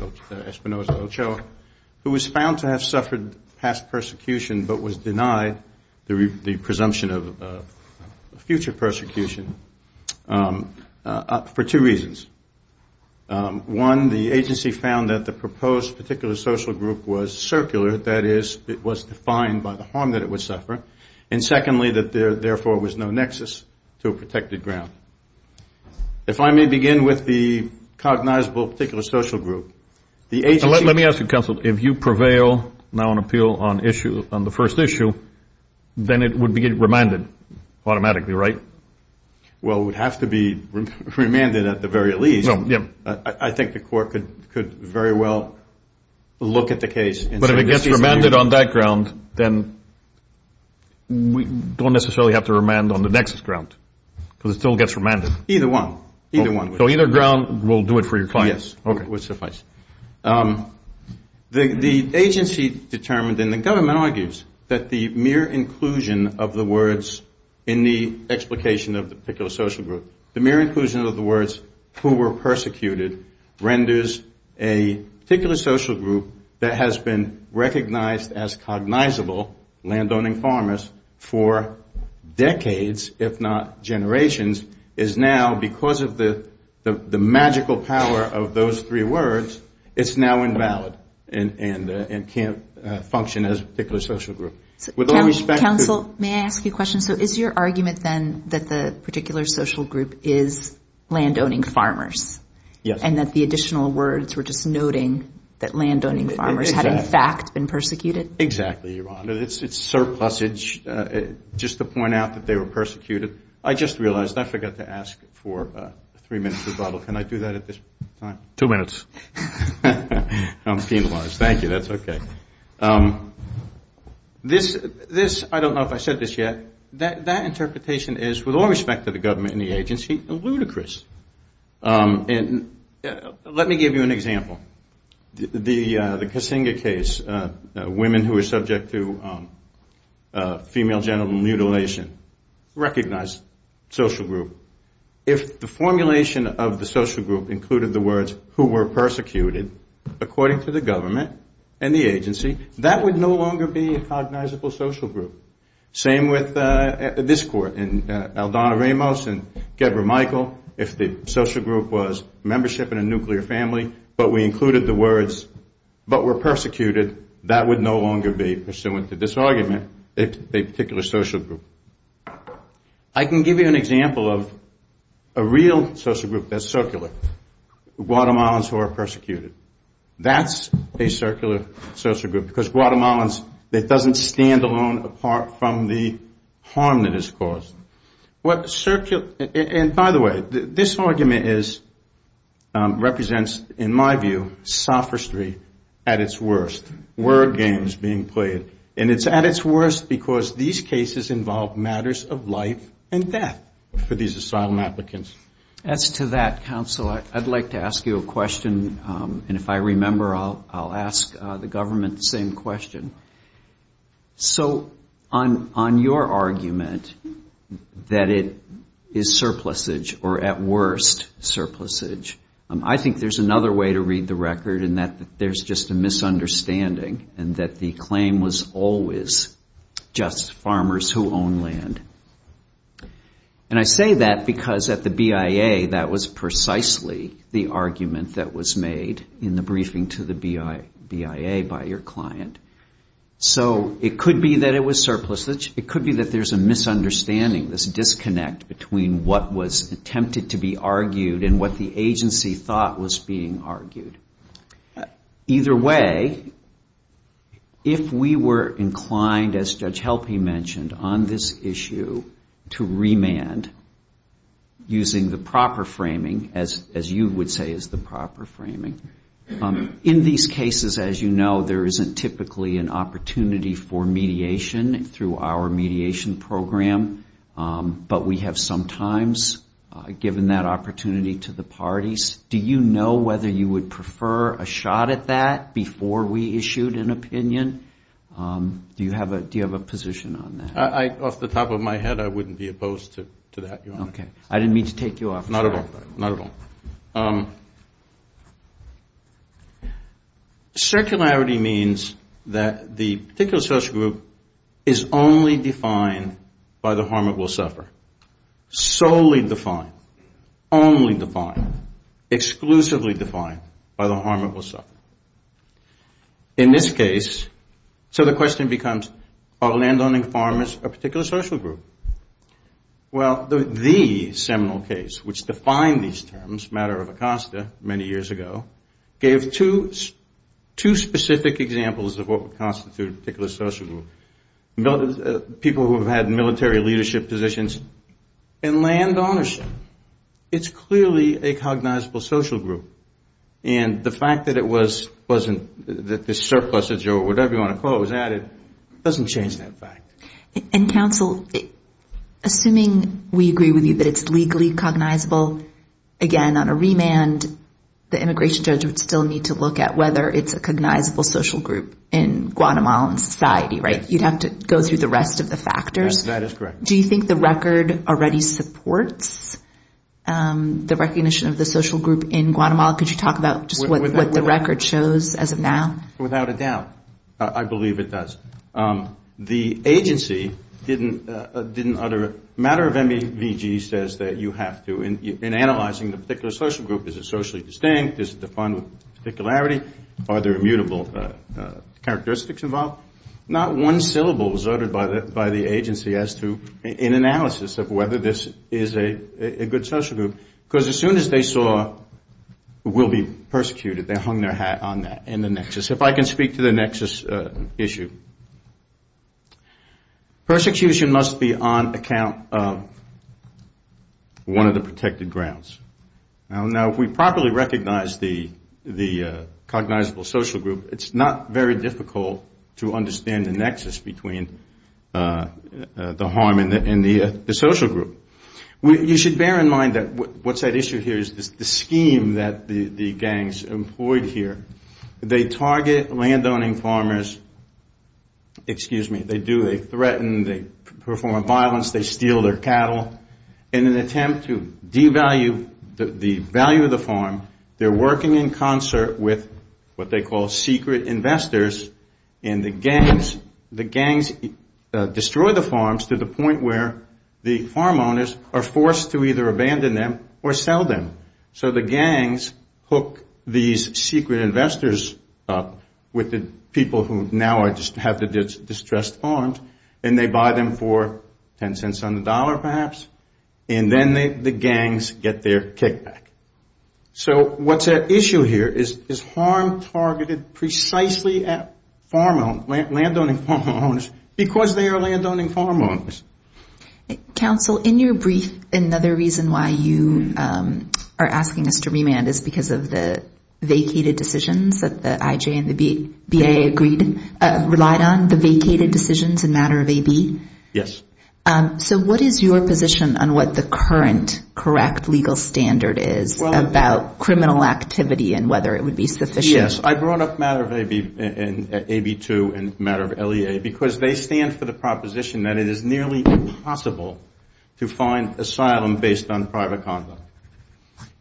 who was found to have suffered past persecution but was denied the presumption of future persecution for two reasons. One, the agency found that the proposed particular social group was circular, that is, it was defined by the harm that it would suffer, and secondly, that there therefore was no nexus to a protected ground. If I may begin with the cognizable particular social group, the agency... Let me ask you, counsel, if you prevail now on appeal on the first issue, then it would be remanded automatically, right? Well, it would have to be remanded at the very least. I think the court could very well look at the case... But if it gets remanded on that ground, then we don't necessarily have to remand on the nexus ground because it still gets remanded. Either one. So either ground will do it for your clients. Yes, it would suffice. The agency determined and the government argues that the mere inclusion of the words in the explication of the particular social group, the mere inclusion of the words who were persecuted renders a particular social group that has been recognized as cognizable landowning farmers for decades, if not generations, is now, because of the magical power of those three words, it's now invalid and can't function as a particular social group. Counsel, may I ask you a question? So is your argument then that the particular social group is landowning farmers? Yes. And that the additional words were just noting that landowning farmers had in fact been persecuted? Exactly, Your Honor. It's surplusage, just to point out that they were persecuted. I just realized, I forgot to ask for three minutes rebuttal. Can I do that at this time? Two minutes. I'm penalized. Thank you. That's okay. This, I don't know if I said this yet, that interpretation is, with all respect to the government and the agency, ludicrous. And let me give you an example. The Kasinga case, women who were subject to female genital mutilation, recognized social group. If the formulation of the social group included the words, who were persecuted, according to the government and the agency, that would no longer be a cognizable social group. Same with this court in Aldana Ramos and Deborah Michael. If the social group was membership in a nuclear family, but we included the words, but were persecuted, that would no longer be pursuant to this argument, a particular social group. I can give you an example of a real social group that's circular. Guatemalans who are persecuted. That's a circular social group, because Guatemalans, it doesn't stand alone apart from the harm that is caused. And by the way, this argument is, represents, in my view, sophistry at its worst. Word games being played. And it's at its worst because these cases involve matters of life and death for these asylum applicants. As to that, counsel, I'd like to ask you a question, and if I remember, I'll ask the government the same question. So on your argument that it is surplusage, or at worst, surplusage, I think there's another way to read the record in that there's just a misunderstanding and that the claim was always just farmers who own land. And I say that because at the BIA, that was precisely the argument that was made in the briefing to the BIA by your client. So it could be that it was surplusage. It could be that there's a misunderstanding, this disconnect between what was attempted to be argued and what the agency thought was being argued. Either way, if we were inclined, as Judge Helpe mentioned, on this issue to remand using the proper framing, as you would say is the proper framing, in these cases, as you know, there isn't typically an opportunity for mediation through our mediation program, but we have sometimes given that opportunity to the parties. Do you know whether you would prefer a shot at that before we issued an opinion? Do you have a position on that? Off the top of my head, I wouldn't be opposed to that. Circularity means that the particular special group is only defined by the harm it will suffer. Solely defined, only defined, exclusively defined by the harm it will suffer. In this case, so the question becomes, are landowning farmers a particular social group? Well, the seminal case which defined these terms, matter of Acosta, many years ago, gave two specific examples of what would constitute a particular social group. People who have had military leadership positions and land ownership. It's clearly a cognizable social group. And the fact that it wasn't, that this surplusage or whatever you want to call it was added, doesn't change that fact. And counsel, assuming we agree with you that it's legally cognizable, again, on a remand, the immigration judge would still need to look at whether it's a cognizable social group in Guatemalan society, right? You'd have to go through the rest of the factors. Do you think the record already supports the recognition of the social group in Guatemala? Could you talk about just what the record shows as of now? Without a doubt. I believe it does. The agency didn't utter a matter of MEVG says that you have to, in analyzing the particular social group, is it socially distinct, is it defined with particularity, are there immutable characteristics involved? Not one syllable was uttered by the agency as to an analysis of whether this is a good social group. Because as soon as they saw we'll be persecuted, they hung their hat on that in the nexus. If I can speak to the nexus issue. Persecution must be on account of one of the protected grounds. Now, if we properly recognize the cognizable social group, it's not very difficult to understand the nexus between the harm and the social group. You should bear in mind that what's at issue here is the scheme that the gangs employed here. They target landowning farmers, excuse me, they do, they threaten, they perform violence, they steal their cattle. In an attempt to devalue the value of the farm, they're working in concert with what they call secret investors, and the gangs destroy the farms to the point where the farm owners are forced to sell their land. Farm owners are forced to either abandon them or sell them. So the gangs hook these secret investors up with the people who now have the distressed farms, and they buy them for ten cents on the dollar perhaps, and then the gangs get their kickback. So what's at issue here is harm targeted precisely at farm owners, landowning farm owners, because they are landowning farm owners. Counsel, in your brief, another reason why you are asking us to remand is because of the vacated decisions that the IJ and the BA agreed, relied on, the vacated decisions in matter of AB? Yes. So what is your position on what the current correct legal standard is about criminal activity and whether it would be sufficient? Yes, I brought up matter of AB2 and matter of LEA, because they stand for the proposition that it is nearly impossible to find asylum based on private conduct.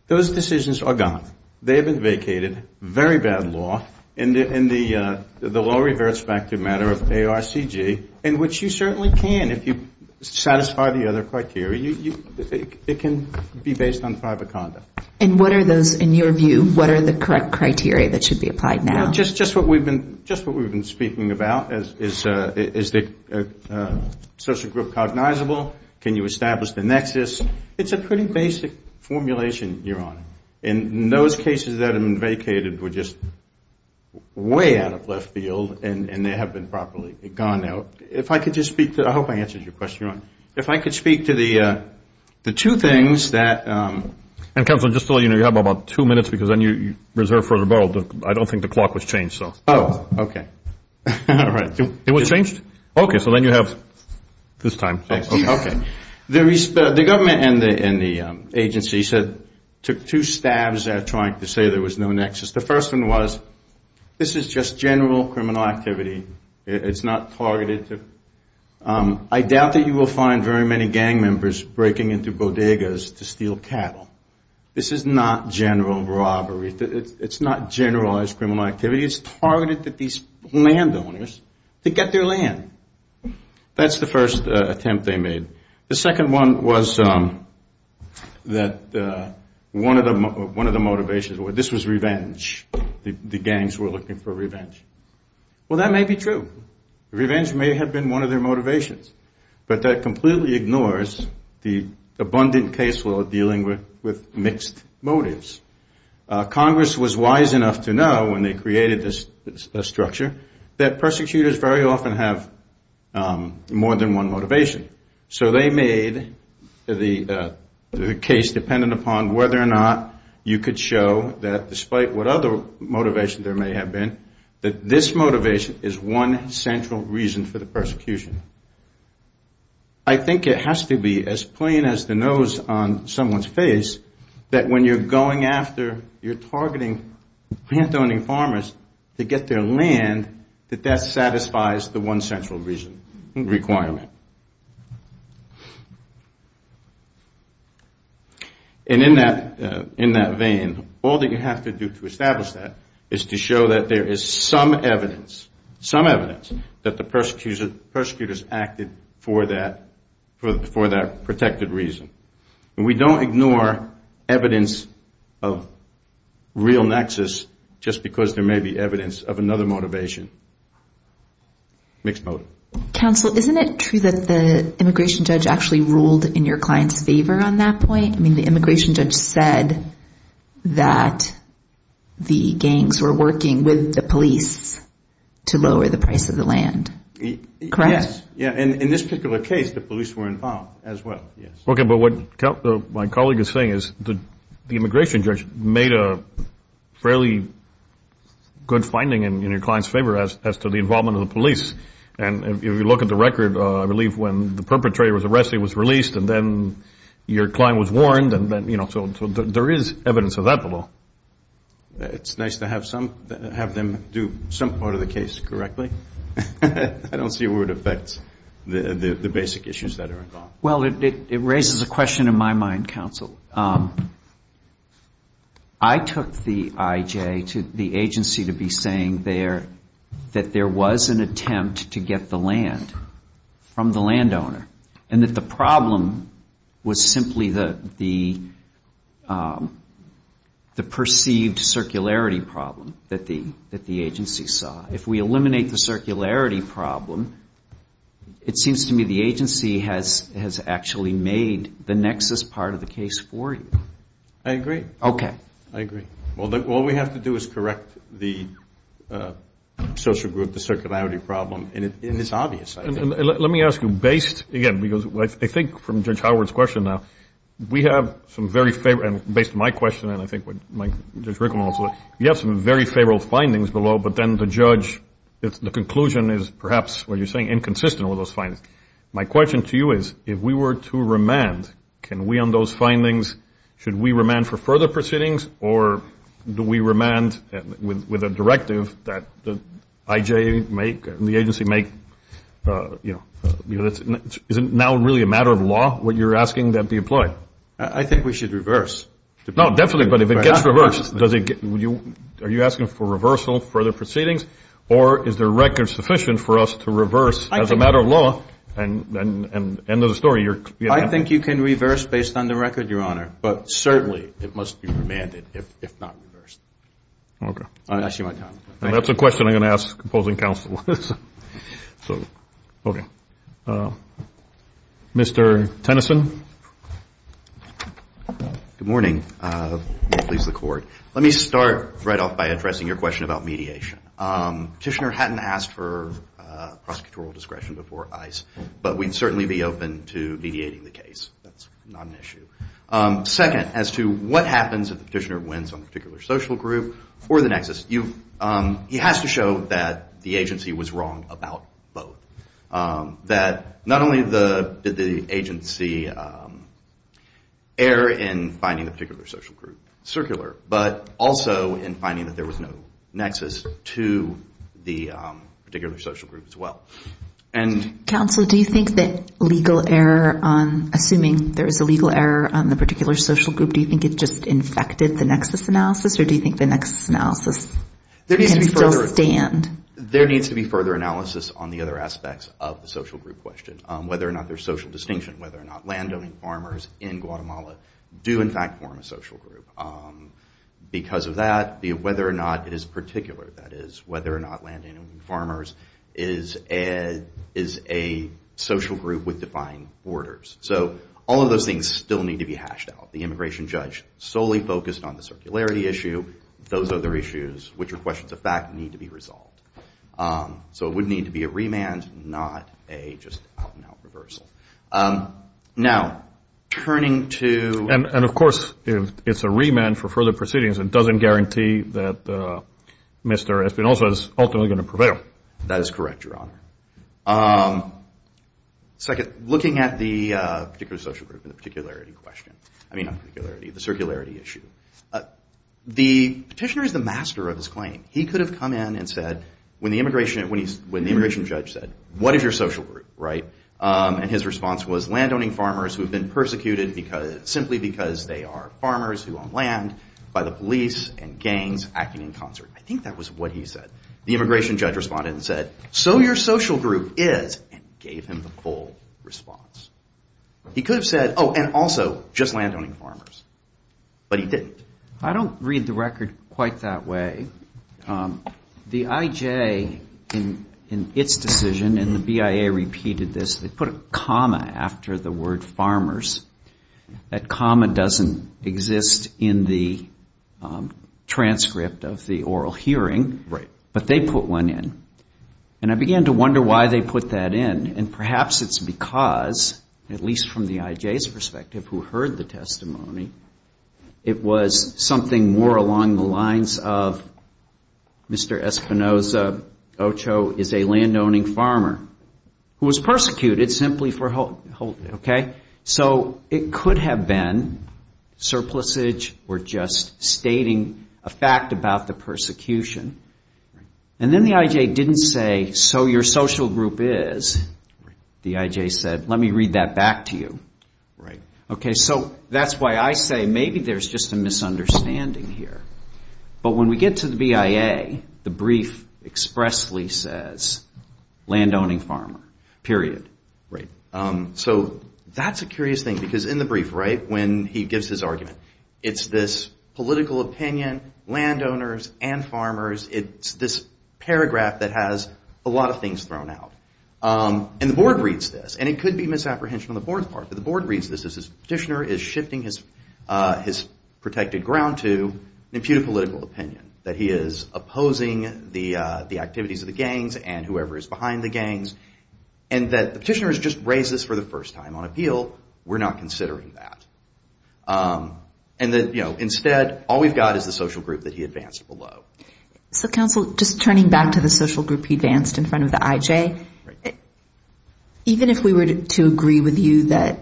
Those decisions are gone. They have been vacated, very bad law, and the law reverts back to matter of ARCG, in which you certainly can if you satisfy the other criteria. It can be based on private conduct. And what are those, in your view, what are the correct criteria that should be applied now? Just what we have been speaking about, is the social group cognizable? Can you establish the nexus? In those cases that have been vacated were just way out of left field, and they have been properly gone now. If I could just speak to, I hope I answered your question. If I could speak to the two things that. Counsel, just to let you know, you have about two minutes, because then you reserve for rebuttal. I don't think the clock was changed. Oh, okay. It was changed? Okay, so then you have this time. The government and the agency took two stabs at trying to say there was no nexus. The first one was this is just general criminal activity, it's not targeted. I doubt that you will find very many gang members breaking into bodegas to steal cattle. This is not general robbery, it's not generalized criminal activity. It's targeted at these landowners to get their land. That's the first attempt they made. The second one was that one of the motivations was this was revenge. The gangs were looking for revenge. Well, that may be true. Revenge may have been one of their motivations, but that completely ignores the abundant case law dealing with mixed motives. Congress was wise enough to know when they created this structure that persecutors very often have more than one motivation. So they made the case dependent upon whether or not you could show that despite what other motivation there may have been, that this motivation is one central reason for the persecution. I think it has to be as plain as the nose on someone's face, that when you're going after, you're targeting plant-owning farmers to get their land, that that satisfies the one central reason, requirement. And in that vein, all that you have to do to establish that is to show that there is one central reason. There is some evidence, some evidence that the persecutors acted for that protected reason. And we don't ignore evidence of real nexus just because there may be evidence of another motivation. Mixed motive. Counsel, isn't it true that the immigration judge actually ruled in your client's favor on that point? I mean, the immigration judge said that the gangs were working with the police to lower the price of the land. Correct? Yes. In this particular case, the police were involved as well. Okay. But what my colleague is saying is the immigration judge made a fairly good finding in your client's favor as to the involvement of the police. And if you look at the record, I believe when the perpetrator was arrested, was released, and then your client was warned. So there is evidence of that below. It's nice to have them do some part of the case correctly. I don't see where it affects the basic issues that are involved. Well, it raises a question in my mind, counsel. I took the IJ to the agency to be saying that there was an attempt to get the land from the landowner, and that the problem was simply the perceived circularity problem that the agency saw. If we eliminate the circularity problem, it seems to me the agency has actually made the nexus part of the case for you. I agree. Okay. I agree. Well, all we have to do is correct the social group, the circularity problem, and it's obvious, I think. Let me ask you, based, again, because I think from Judge Howard's question now, we have some very favorable, and based on my question, and I think Judge Rickleman also, we have some very favorable findings below, but then the judge, the conclusion is perhaps, what you're saying, inconsistent with those findings. My question to you is, if we were to remand, can we on those findings, should we remand for further proceedings, or do we remand with a directive that the IJ make, the agency make, you know, is it now really a matter of law what you're asking that be employed? I think we should reverse. No, definitely, but if it gets reversed, are you asking for reversal, further proceedings, and end of the story. I think you can reverse based on the record, Your Honor, but certainly it must be remanded, if not reversed. Okay. That's a question I'm going to ask opposing counsel. Mr. Tennyson. Good morning. Let me start right off by addressing your question about mediation. Petitioner hadn't asked for prosecutorial discretion before ICE, but we'd certainly be open to mediating the case. That's not an issue. Second, as to what happens if the petitioner wins on a particular social group or the nexus, he has to show that the agency was wrong about both. That not only did the agency err in finding a particular social group circular, but also in finding that there was no nexus to the particular social group as well. Counsel, do you think that legal error, assuming there is a legal error on the particular social group, do you think it just infected the nexus analysis, or do you think the nexus analysis can still stand? There needs to be further analysis on the other aspects of the social group question, whether or not there's social distinction, whether or not landowning farmers in Guatemala do, in fact, form a social group. Because of that, whether or not it is particular, that is, whether or not landowning farmers is a social group with defined borders. So all of those things still need to be hashed out. The immigration judge solely focused on the circularity issue. Those other issues, which are questions of fact, need to be resolved. So it would need to be a remand, not a just out-and-out reversal. Now, turning to... particular social group and the particularity question, I mean, not particularity, the circularity issue, the petitioner is the master of his claim. He could have come in and said, when the immigration judge said, what is your social group, right, and his response was landowning farmers who have been persecuted simply because they are farmers who own land by the police and gangs acting in concert. I think that was what he said. The immigration judge responded and said, so your social group is, and gave him the full response. He could have said, oh, and also just landowning farmers. But he didn't. I don't read the record quite that way. The IJ, in its decision, and the BIA repeated this, they put a comma after the word farmers. That comma doesn't exist in the transcript of the oral hearing. But they put one in. And I began to wonder why they put that in. And perhaps it's because, at least from the IJ's perspective who heard the testimony, it was something more along the lines of Mr. Espinoza Ocho is a landowning farmer who was persecuted simply for... So it could have been surplusage or just stating a fact about the persecution. And then the IJ didn't say, so your social group is. The IJ said, let me read that back to you. So that's why I say maybe there's just a misunderstanding here. But when we get to the BIA, the brief expressly says landowning farmer, period. So that's a curious thing, because in the brief, when he gives his argument, it's this political opinion, landowners and farmers. It's this paragraph that has a lot of things thrown out. And the board reads this. And it could be misapprehension on the board's part. But the board reads this as this petitioner is shifting his protected ground to an imputed political opinion. That he is opposing the activities of the gangs and whoever is behind the gangs. And that the petitioner has just raised this for the first time on appeal. We're not considering that. And instead, all we've got is the social group that he advanced below. So, counsel, just turning back to the social group he advanced in front of the IJ, even if we were to agree with you that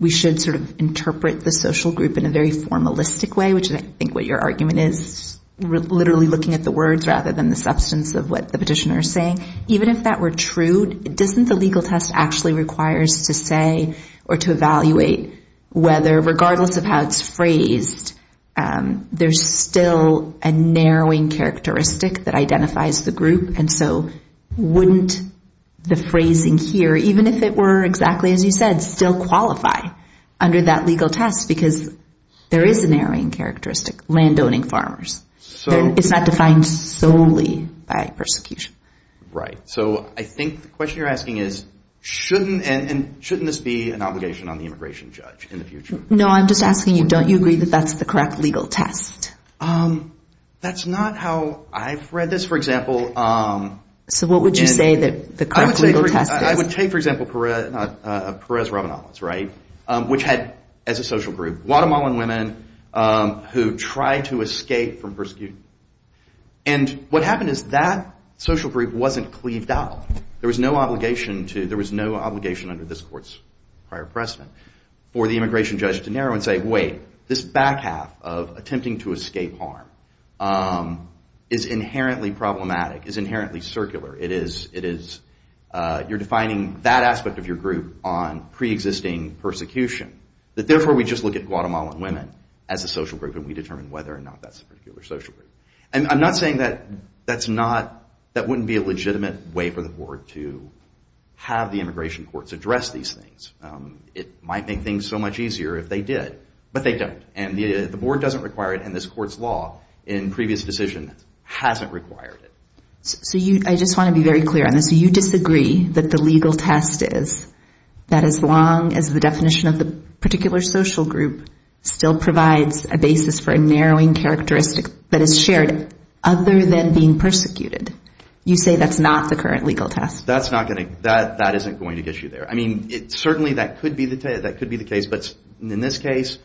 we should sort of interpret the social group in a very formalistic way, which I think what your argument is, literally looking at the words rather than the substance of what the petitioner is saying, even if that were true, doesn't the legal test actually requires to say or to evaluate whether regardless of how it's phrased, there's still a narrowing characteristic that identifies the group? And so wouldn't the phrasing here, even if it were exactly as you said, still qualify under that legal test? Because there is a narrowing characteristic, landowning farmers. It's not defined solely by persecution. Right. So I think the question you're asking is, shouldn't this be an obligation on the immigration judge in the future? No, I'm just asking you, don't you agree that that's the correct legal test? That's not how I've read this, for example. So what would you say that the correct legal test is? I would take, for example, Perez Ravanalos, right, which had as a social group, Guatemalan women who tried to escape from persecution. And what happened is that social group wasn't cleaved out. There was no obligation to, there was no obligation under this court's prior precedent for the immigration judge to narrow and say, wait, this back half of attempting to escape harm is inherently problematic, is inherently circular. It is, you're defining that aspect of your group on preexisting persecution. That therefore we just look at Guatemalan women as a social group and we determine whether or not that's a particular social group. And I'm not saying that that's not, that wouldn't be a legitimate way for the board to have the immigration courts address these things. It might make things so much easier if they did, but they don't. And the board doesn't require it and this court's law in previous decision hasn't required it. So you, I just want to be very clear on this. So you disagree that the legal test is that as long as the definition of the particular social group still provides a basis for a narrowing characteristic that is shared other than being persecuted, you say that's not the current legal test? That's not going to, that isn't going to get you there. I mean, certainly that could be the case, but in this case,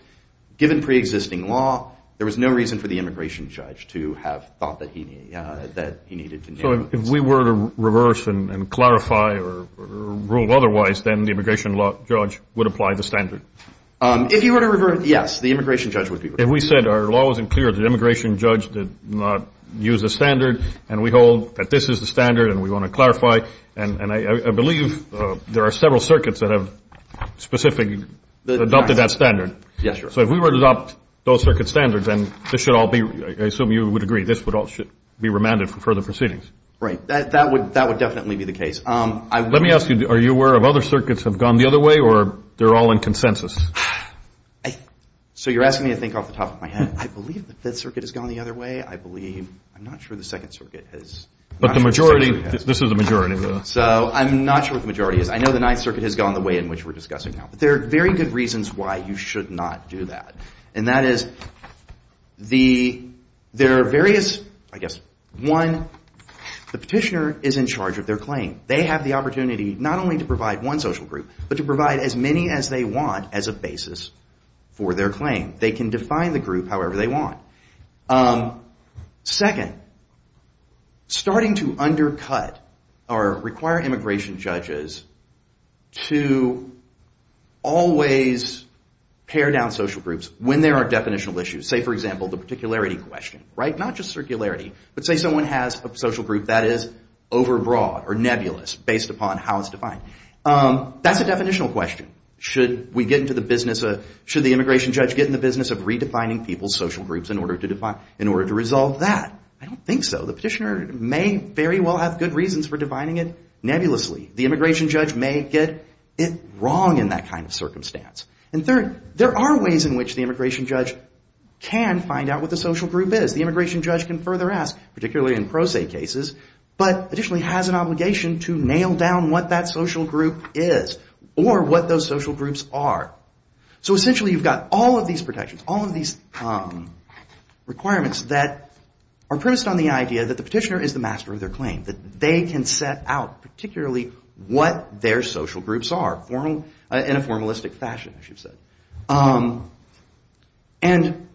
given preexisting law, there was no reason for the immigration judge to have thought that he needed to narrow. So if we were to reverse and clarify or rule otherwise, then the immigration judge would apply the standard? If you were to reverse, yes, the immigration judge would be reversed. If we said our law wasn't clear, the immigration judge did not use the standard, and we hold that this is the standard and we want to clarify, and I believe there are several circuits that have specific, adopted that standard. So if we were to adopt those circuit standards, then this should all be, I assume you would agree, this would all be remanded for further proceedings? Right. That would definitely be the case. Let me ask you, are you aware of other circuits have gone the other way or they're all in consensus? So you're asking me to think off the top of my head. I believe the Fifth Circuit has gone the other way. I believe, I'm not sure the Second Circuit has. But the majority, this is the majority. So I'm not sure what the majority is. I know the Ninth Circuit has gone the way in which we're discussing now. But there are very good reasons why you should not do that, and that is there are various, I guess, one, the petitioner is in charge of their claim. They have the opportunity not only to provide one social group, but to provide as many as they want as a basis for their claim. They can define the group however they want. Second, starting to undercut or require immigration judges to always pare down social groups when there are definitional issues. Say, for example, the particularity question, right? Not just circularity, but say someone has a social group that is overbroad or nebulous based upon how it's defined. That's a definitional question. Should the immigration judge get in the business of redefining people's social groups in order to resolve that? I don't think so. The petitioner may very well have good reasons for defining it nebulously. The immigration judge may get it wrong in that kind of circumstance. And third, there are ways in which the immigration judge can find out what the social group is. The immigration judge can further ask, particularly in pro se cases, but additionally has an obligation to nail down what that social group is or what those social groups are. So essentially, you've got all of these protections, all of these requirements that are premised on the idea that the petitioner is the master of their claim, that they can set out particularly what their social groups are in a formalistic fashion, as you've said. And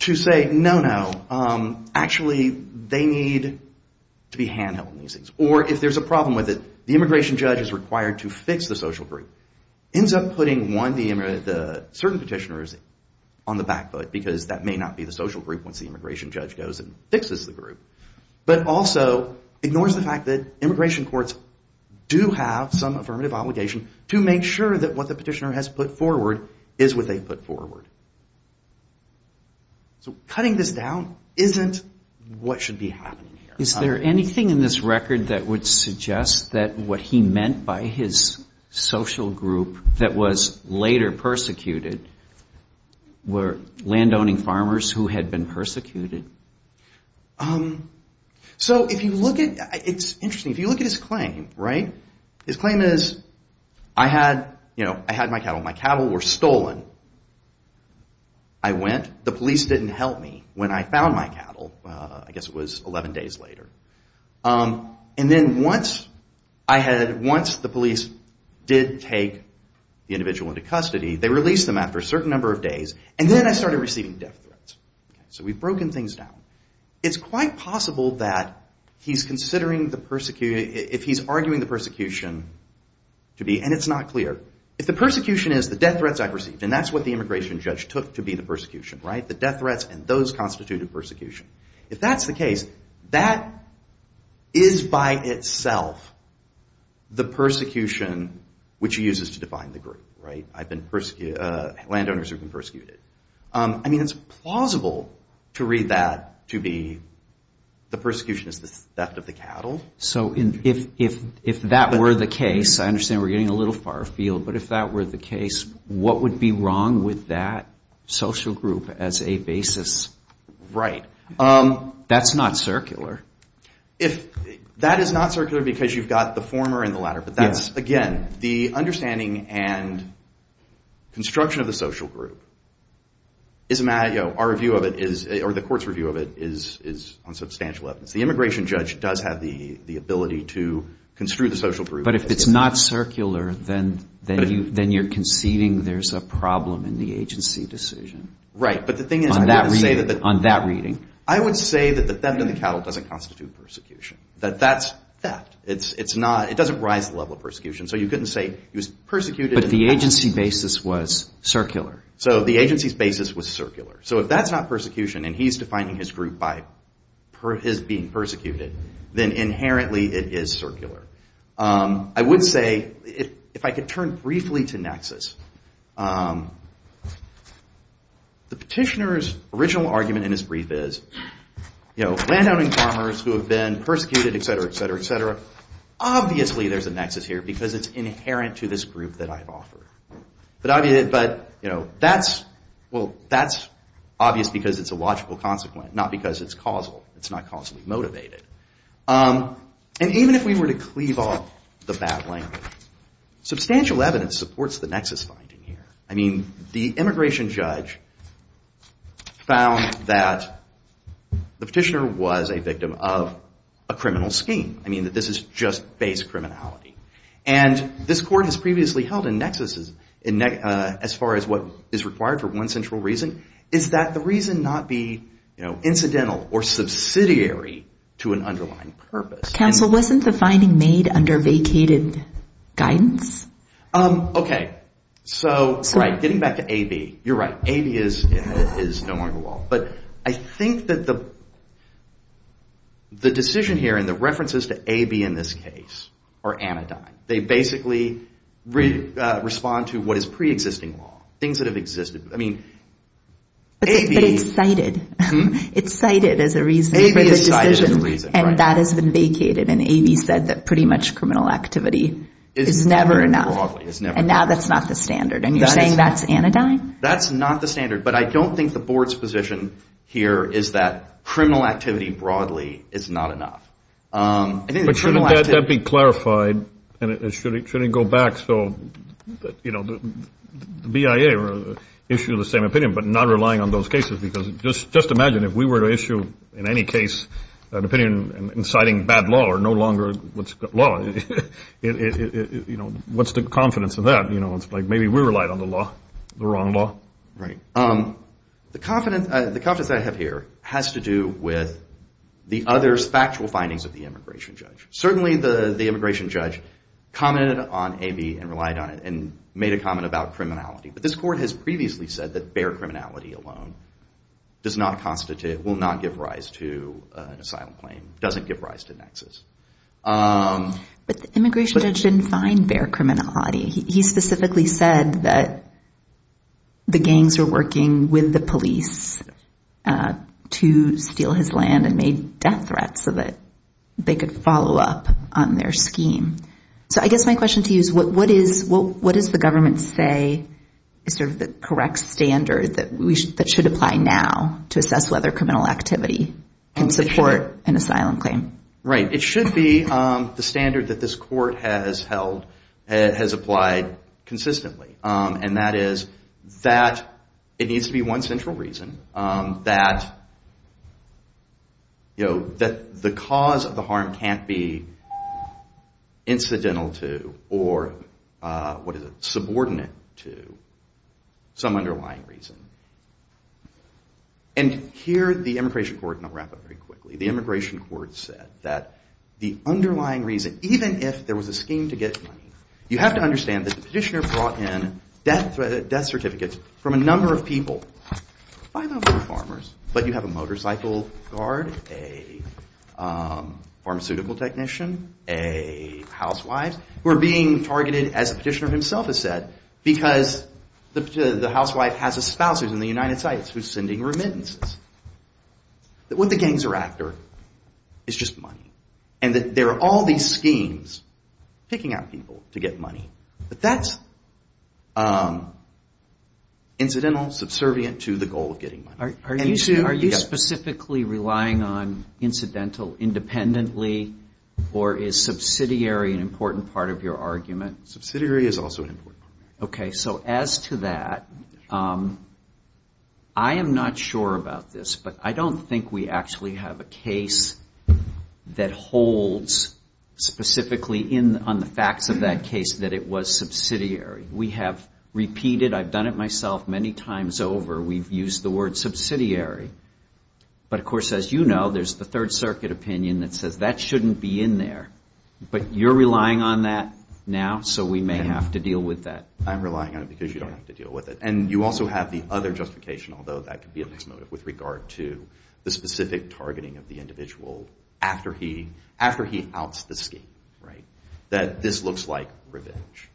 to say, no, no, actually they need to be handheld in these things. Or if there's a problem with it, the immigration judge is required to fix the social group. Ends up putting, one, certain petitioners on the back foot, because that may not be the social group once the immigration judge goes and fixes the group. But also ignores the fact that immigration courts do have some affirmative obligation to make sure that what the petitioner has put forward is what they put forward. So cutting this down isn't what should be happening here. Is there anything in this record that would suggest that what he meant by his social group that was later persecuted were landowning farmers who had been persecuted? So if you look at, it's interesting, if you look at his claim, right? His claim is, I had my cattle. My cattle were stolen. I went, the police didn't help me when I found my cattle, I guess it was 11 days later. And then once the police did take the individual into custody, they released them after a certain number of days, and then I started receiving death threats. So we've broken things down. It's quite possible that if he's arguing the persecution to be, and it's not clear. If the persecution is the death threats I've received, and that's what the immigration judge took to be the persecution, right? The death threats and those constituted persecution. If that's the case, that is by itself the persecution which he uses to define the group, right? I mean, it's plausible to read that to be the persecution is the theft of the cattle. So if that were the case, I understand we're getting a little far afield, but if that were the case, what would be wrong with that social group as a basis? Right. That's not circular. That is not circular because you've got the former and the latter. But that's, again, the understanding and construction of the social group. Our review of it is, or the court's review of it is on substantial evidence. The immigration judge does have the ability to construe the social group. But if it's not circular, then you're conceding there's a problem in the agency decision. Right, but the thing is, I would say that the theft of the cattle doesn't constitute persecution. That that's theft. It doesn't rise to the level of persecution. So if that's not persecution and he's defining his group by his being persecuted, then inherently it is circular. The petitioner's original argument in his brief is, landowning farmers who have been persecuted, et cetera, et cetera, et cetera, obviously there's a nexus here because it's inherent to this group that I've offered. But that's obvious because it's a logical consequence, not because it's causal. It's not causally motivated. And even if we were to cleave off the bad language, substantial evidence supports the nexus finding here. The immigration judge found that the petitioner was a victim of a criminal scheme. I mean, that this is just base criminality. And this court has previously held a nexus as far as what is required for one central reason, is that the reason not be incidental or subsidiary to an underlying purpose. Counsel, wasn't the finding made under vacated guidance? Okay. So getting back to AB, you're right. AB is no longer the law. But I think that the decision here and the references to AB in this case are anodyne. They basically respond to what is preexisting law. Things that have existed. But it's cited. It's cited as a reason. And that has been vacated and AB said that pretty much criminal activity is never enough. And now that's not the standard. And you're saying that's anodyne? That's not the standard. But I don't think the board's position here is that criminal activity broadly is not enough. But shouldn't that be clarified and shouldn't it go back so, you know, the BIA issue the same opinion but not relying on those cases. Because just imagine if we were to issue in any case an opinion inciting bad law or no longer what's law, what's the confidence in that? It's like maybe we relied on the wrong law. The confidence I have here has to do with the other factual findings of the immigration judge. Certainly the immigration judge commented on AB and relied on it and made a comment about criminality. But this court has previously said that bare criminality alone does not constitute, will not give rise to an asylum claim, doesn't give rise to nexus. But the immigration judge didn't find bare criminality. He specifically said that the gangs were working with the police to steal his land and made death threats so that they could follow up on their scheme. So I guess my question to you is what does the government say is sort of the correct standard that should apply now to assess whether criminal activity can support an asylum claim? Right. It should be the standard that this court has held, has applied consistently. And that is that it needs to be one central reason that, you know, that the cause of the harm can't be incidental to or, what is it, subordinate to some underlying reason. And here the immigration court, and I'll wrap up very quickly. The immigration court said that the underlying reason, even if there was a scheme to get money, you have to understand that the petitioner brought in death certificates from a number of people. Five of them were farmers, but you have a motorcycle guard, a pharmaceutical technician, a housewife, who are being targeted, as the petitioner himself has said, because the housewife has a spouse who's in the United States who's sending remittances. What the gangs are after is just money. And there are all these schemes, picking out people to get money. But that's incidental, subservient to the goal of getting money. Are you specifically relying on incidental independently, or is subsidiary an important part of your argument? Subsidiary is also important. Okay, so as to that, I am not sure about this, but I don't think we actually have a case that holds specifically on the facts of that case that it was subsidiary. We have repeated, I've done it myself many times over, we've used the word subsidiary. But of course, as you know, there's the Third Circuit opinion that says that shouldn't be in there. But you're relying on that now, so we may have to deal with that. I'm relying on it because you don't have to deal with it. And you also have the other justification, although that could be a mixed motive, with regard to the specific targeting of the individual after he outs the scheme, that this looks like revenge.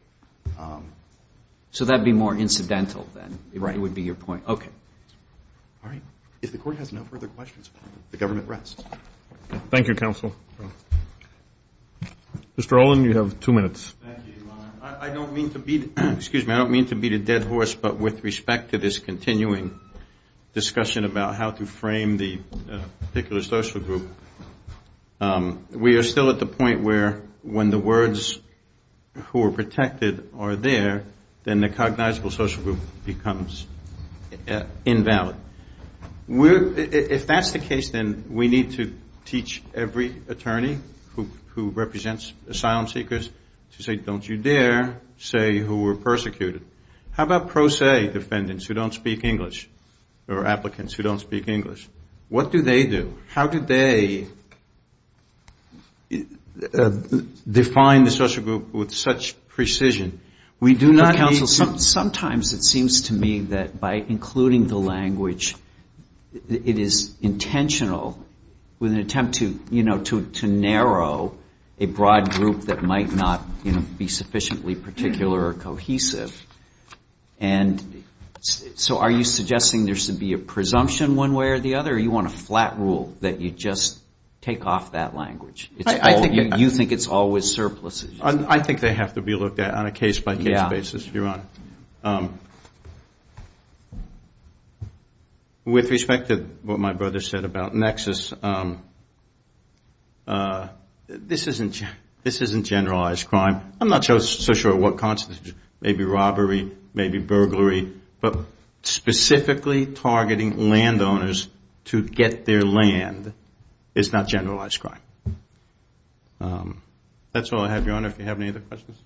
So that would be more incidental, then, would be your point. If the Court has no further questions, the Government rests. Thank you, Counsel. Mr. Olin, you have two minutes. I don't mean to beat a dead horse, but with respect to this continuing discussion about how to frame the particular social group, we are still at the point where when the words who are protected are there, then the cognizable social group becomes invalid. If that's the case, then we need to teach every attorney who represents asylum seekers to say, don't you dare say who were persecuted. How about pro se defendants who don't speak English, or applicants who don't speak English? What do they do? How do they define the social group with such precision? Sometimes it seems to me that by including the language, it is intentional, with an attempt to narrow a broad group that might not be sufficiently particular or cohesive. And so are you suggesting there should be a presumption one way or the other, or do you want a flat rule that you just take off that language? You think it's always surpluses. I think they have to be looked at on a case-by-case basis, Your Honor. With respect to what my brother said about Nexus, this isn't generalized crime. I'm not so sure what constitutes maybe robbery, maybe burglary, but specifically targeting landowners to get their land is not generalized crime. That's all I have, Your Honor. If you have any other questions.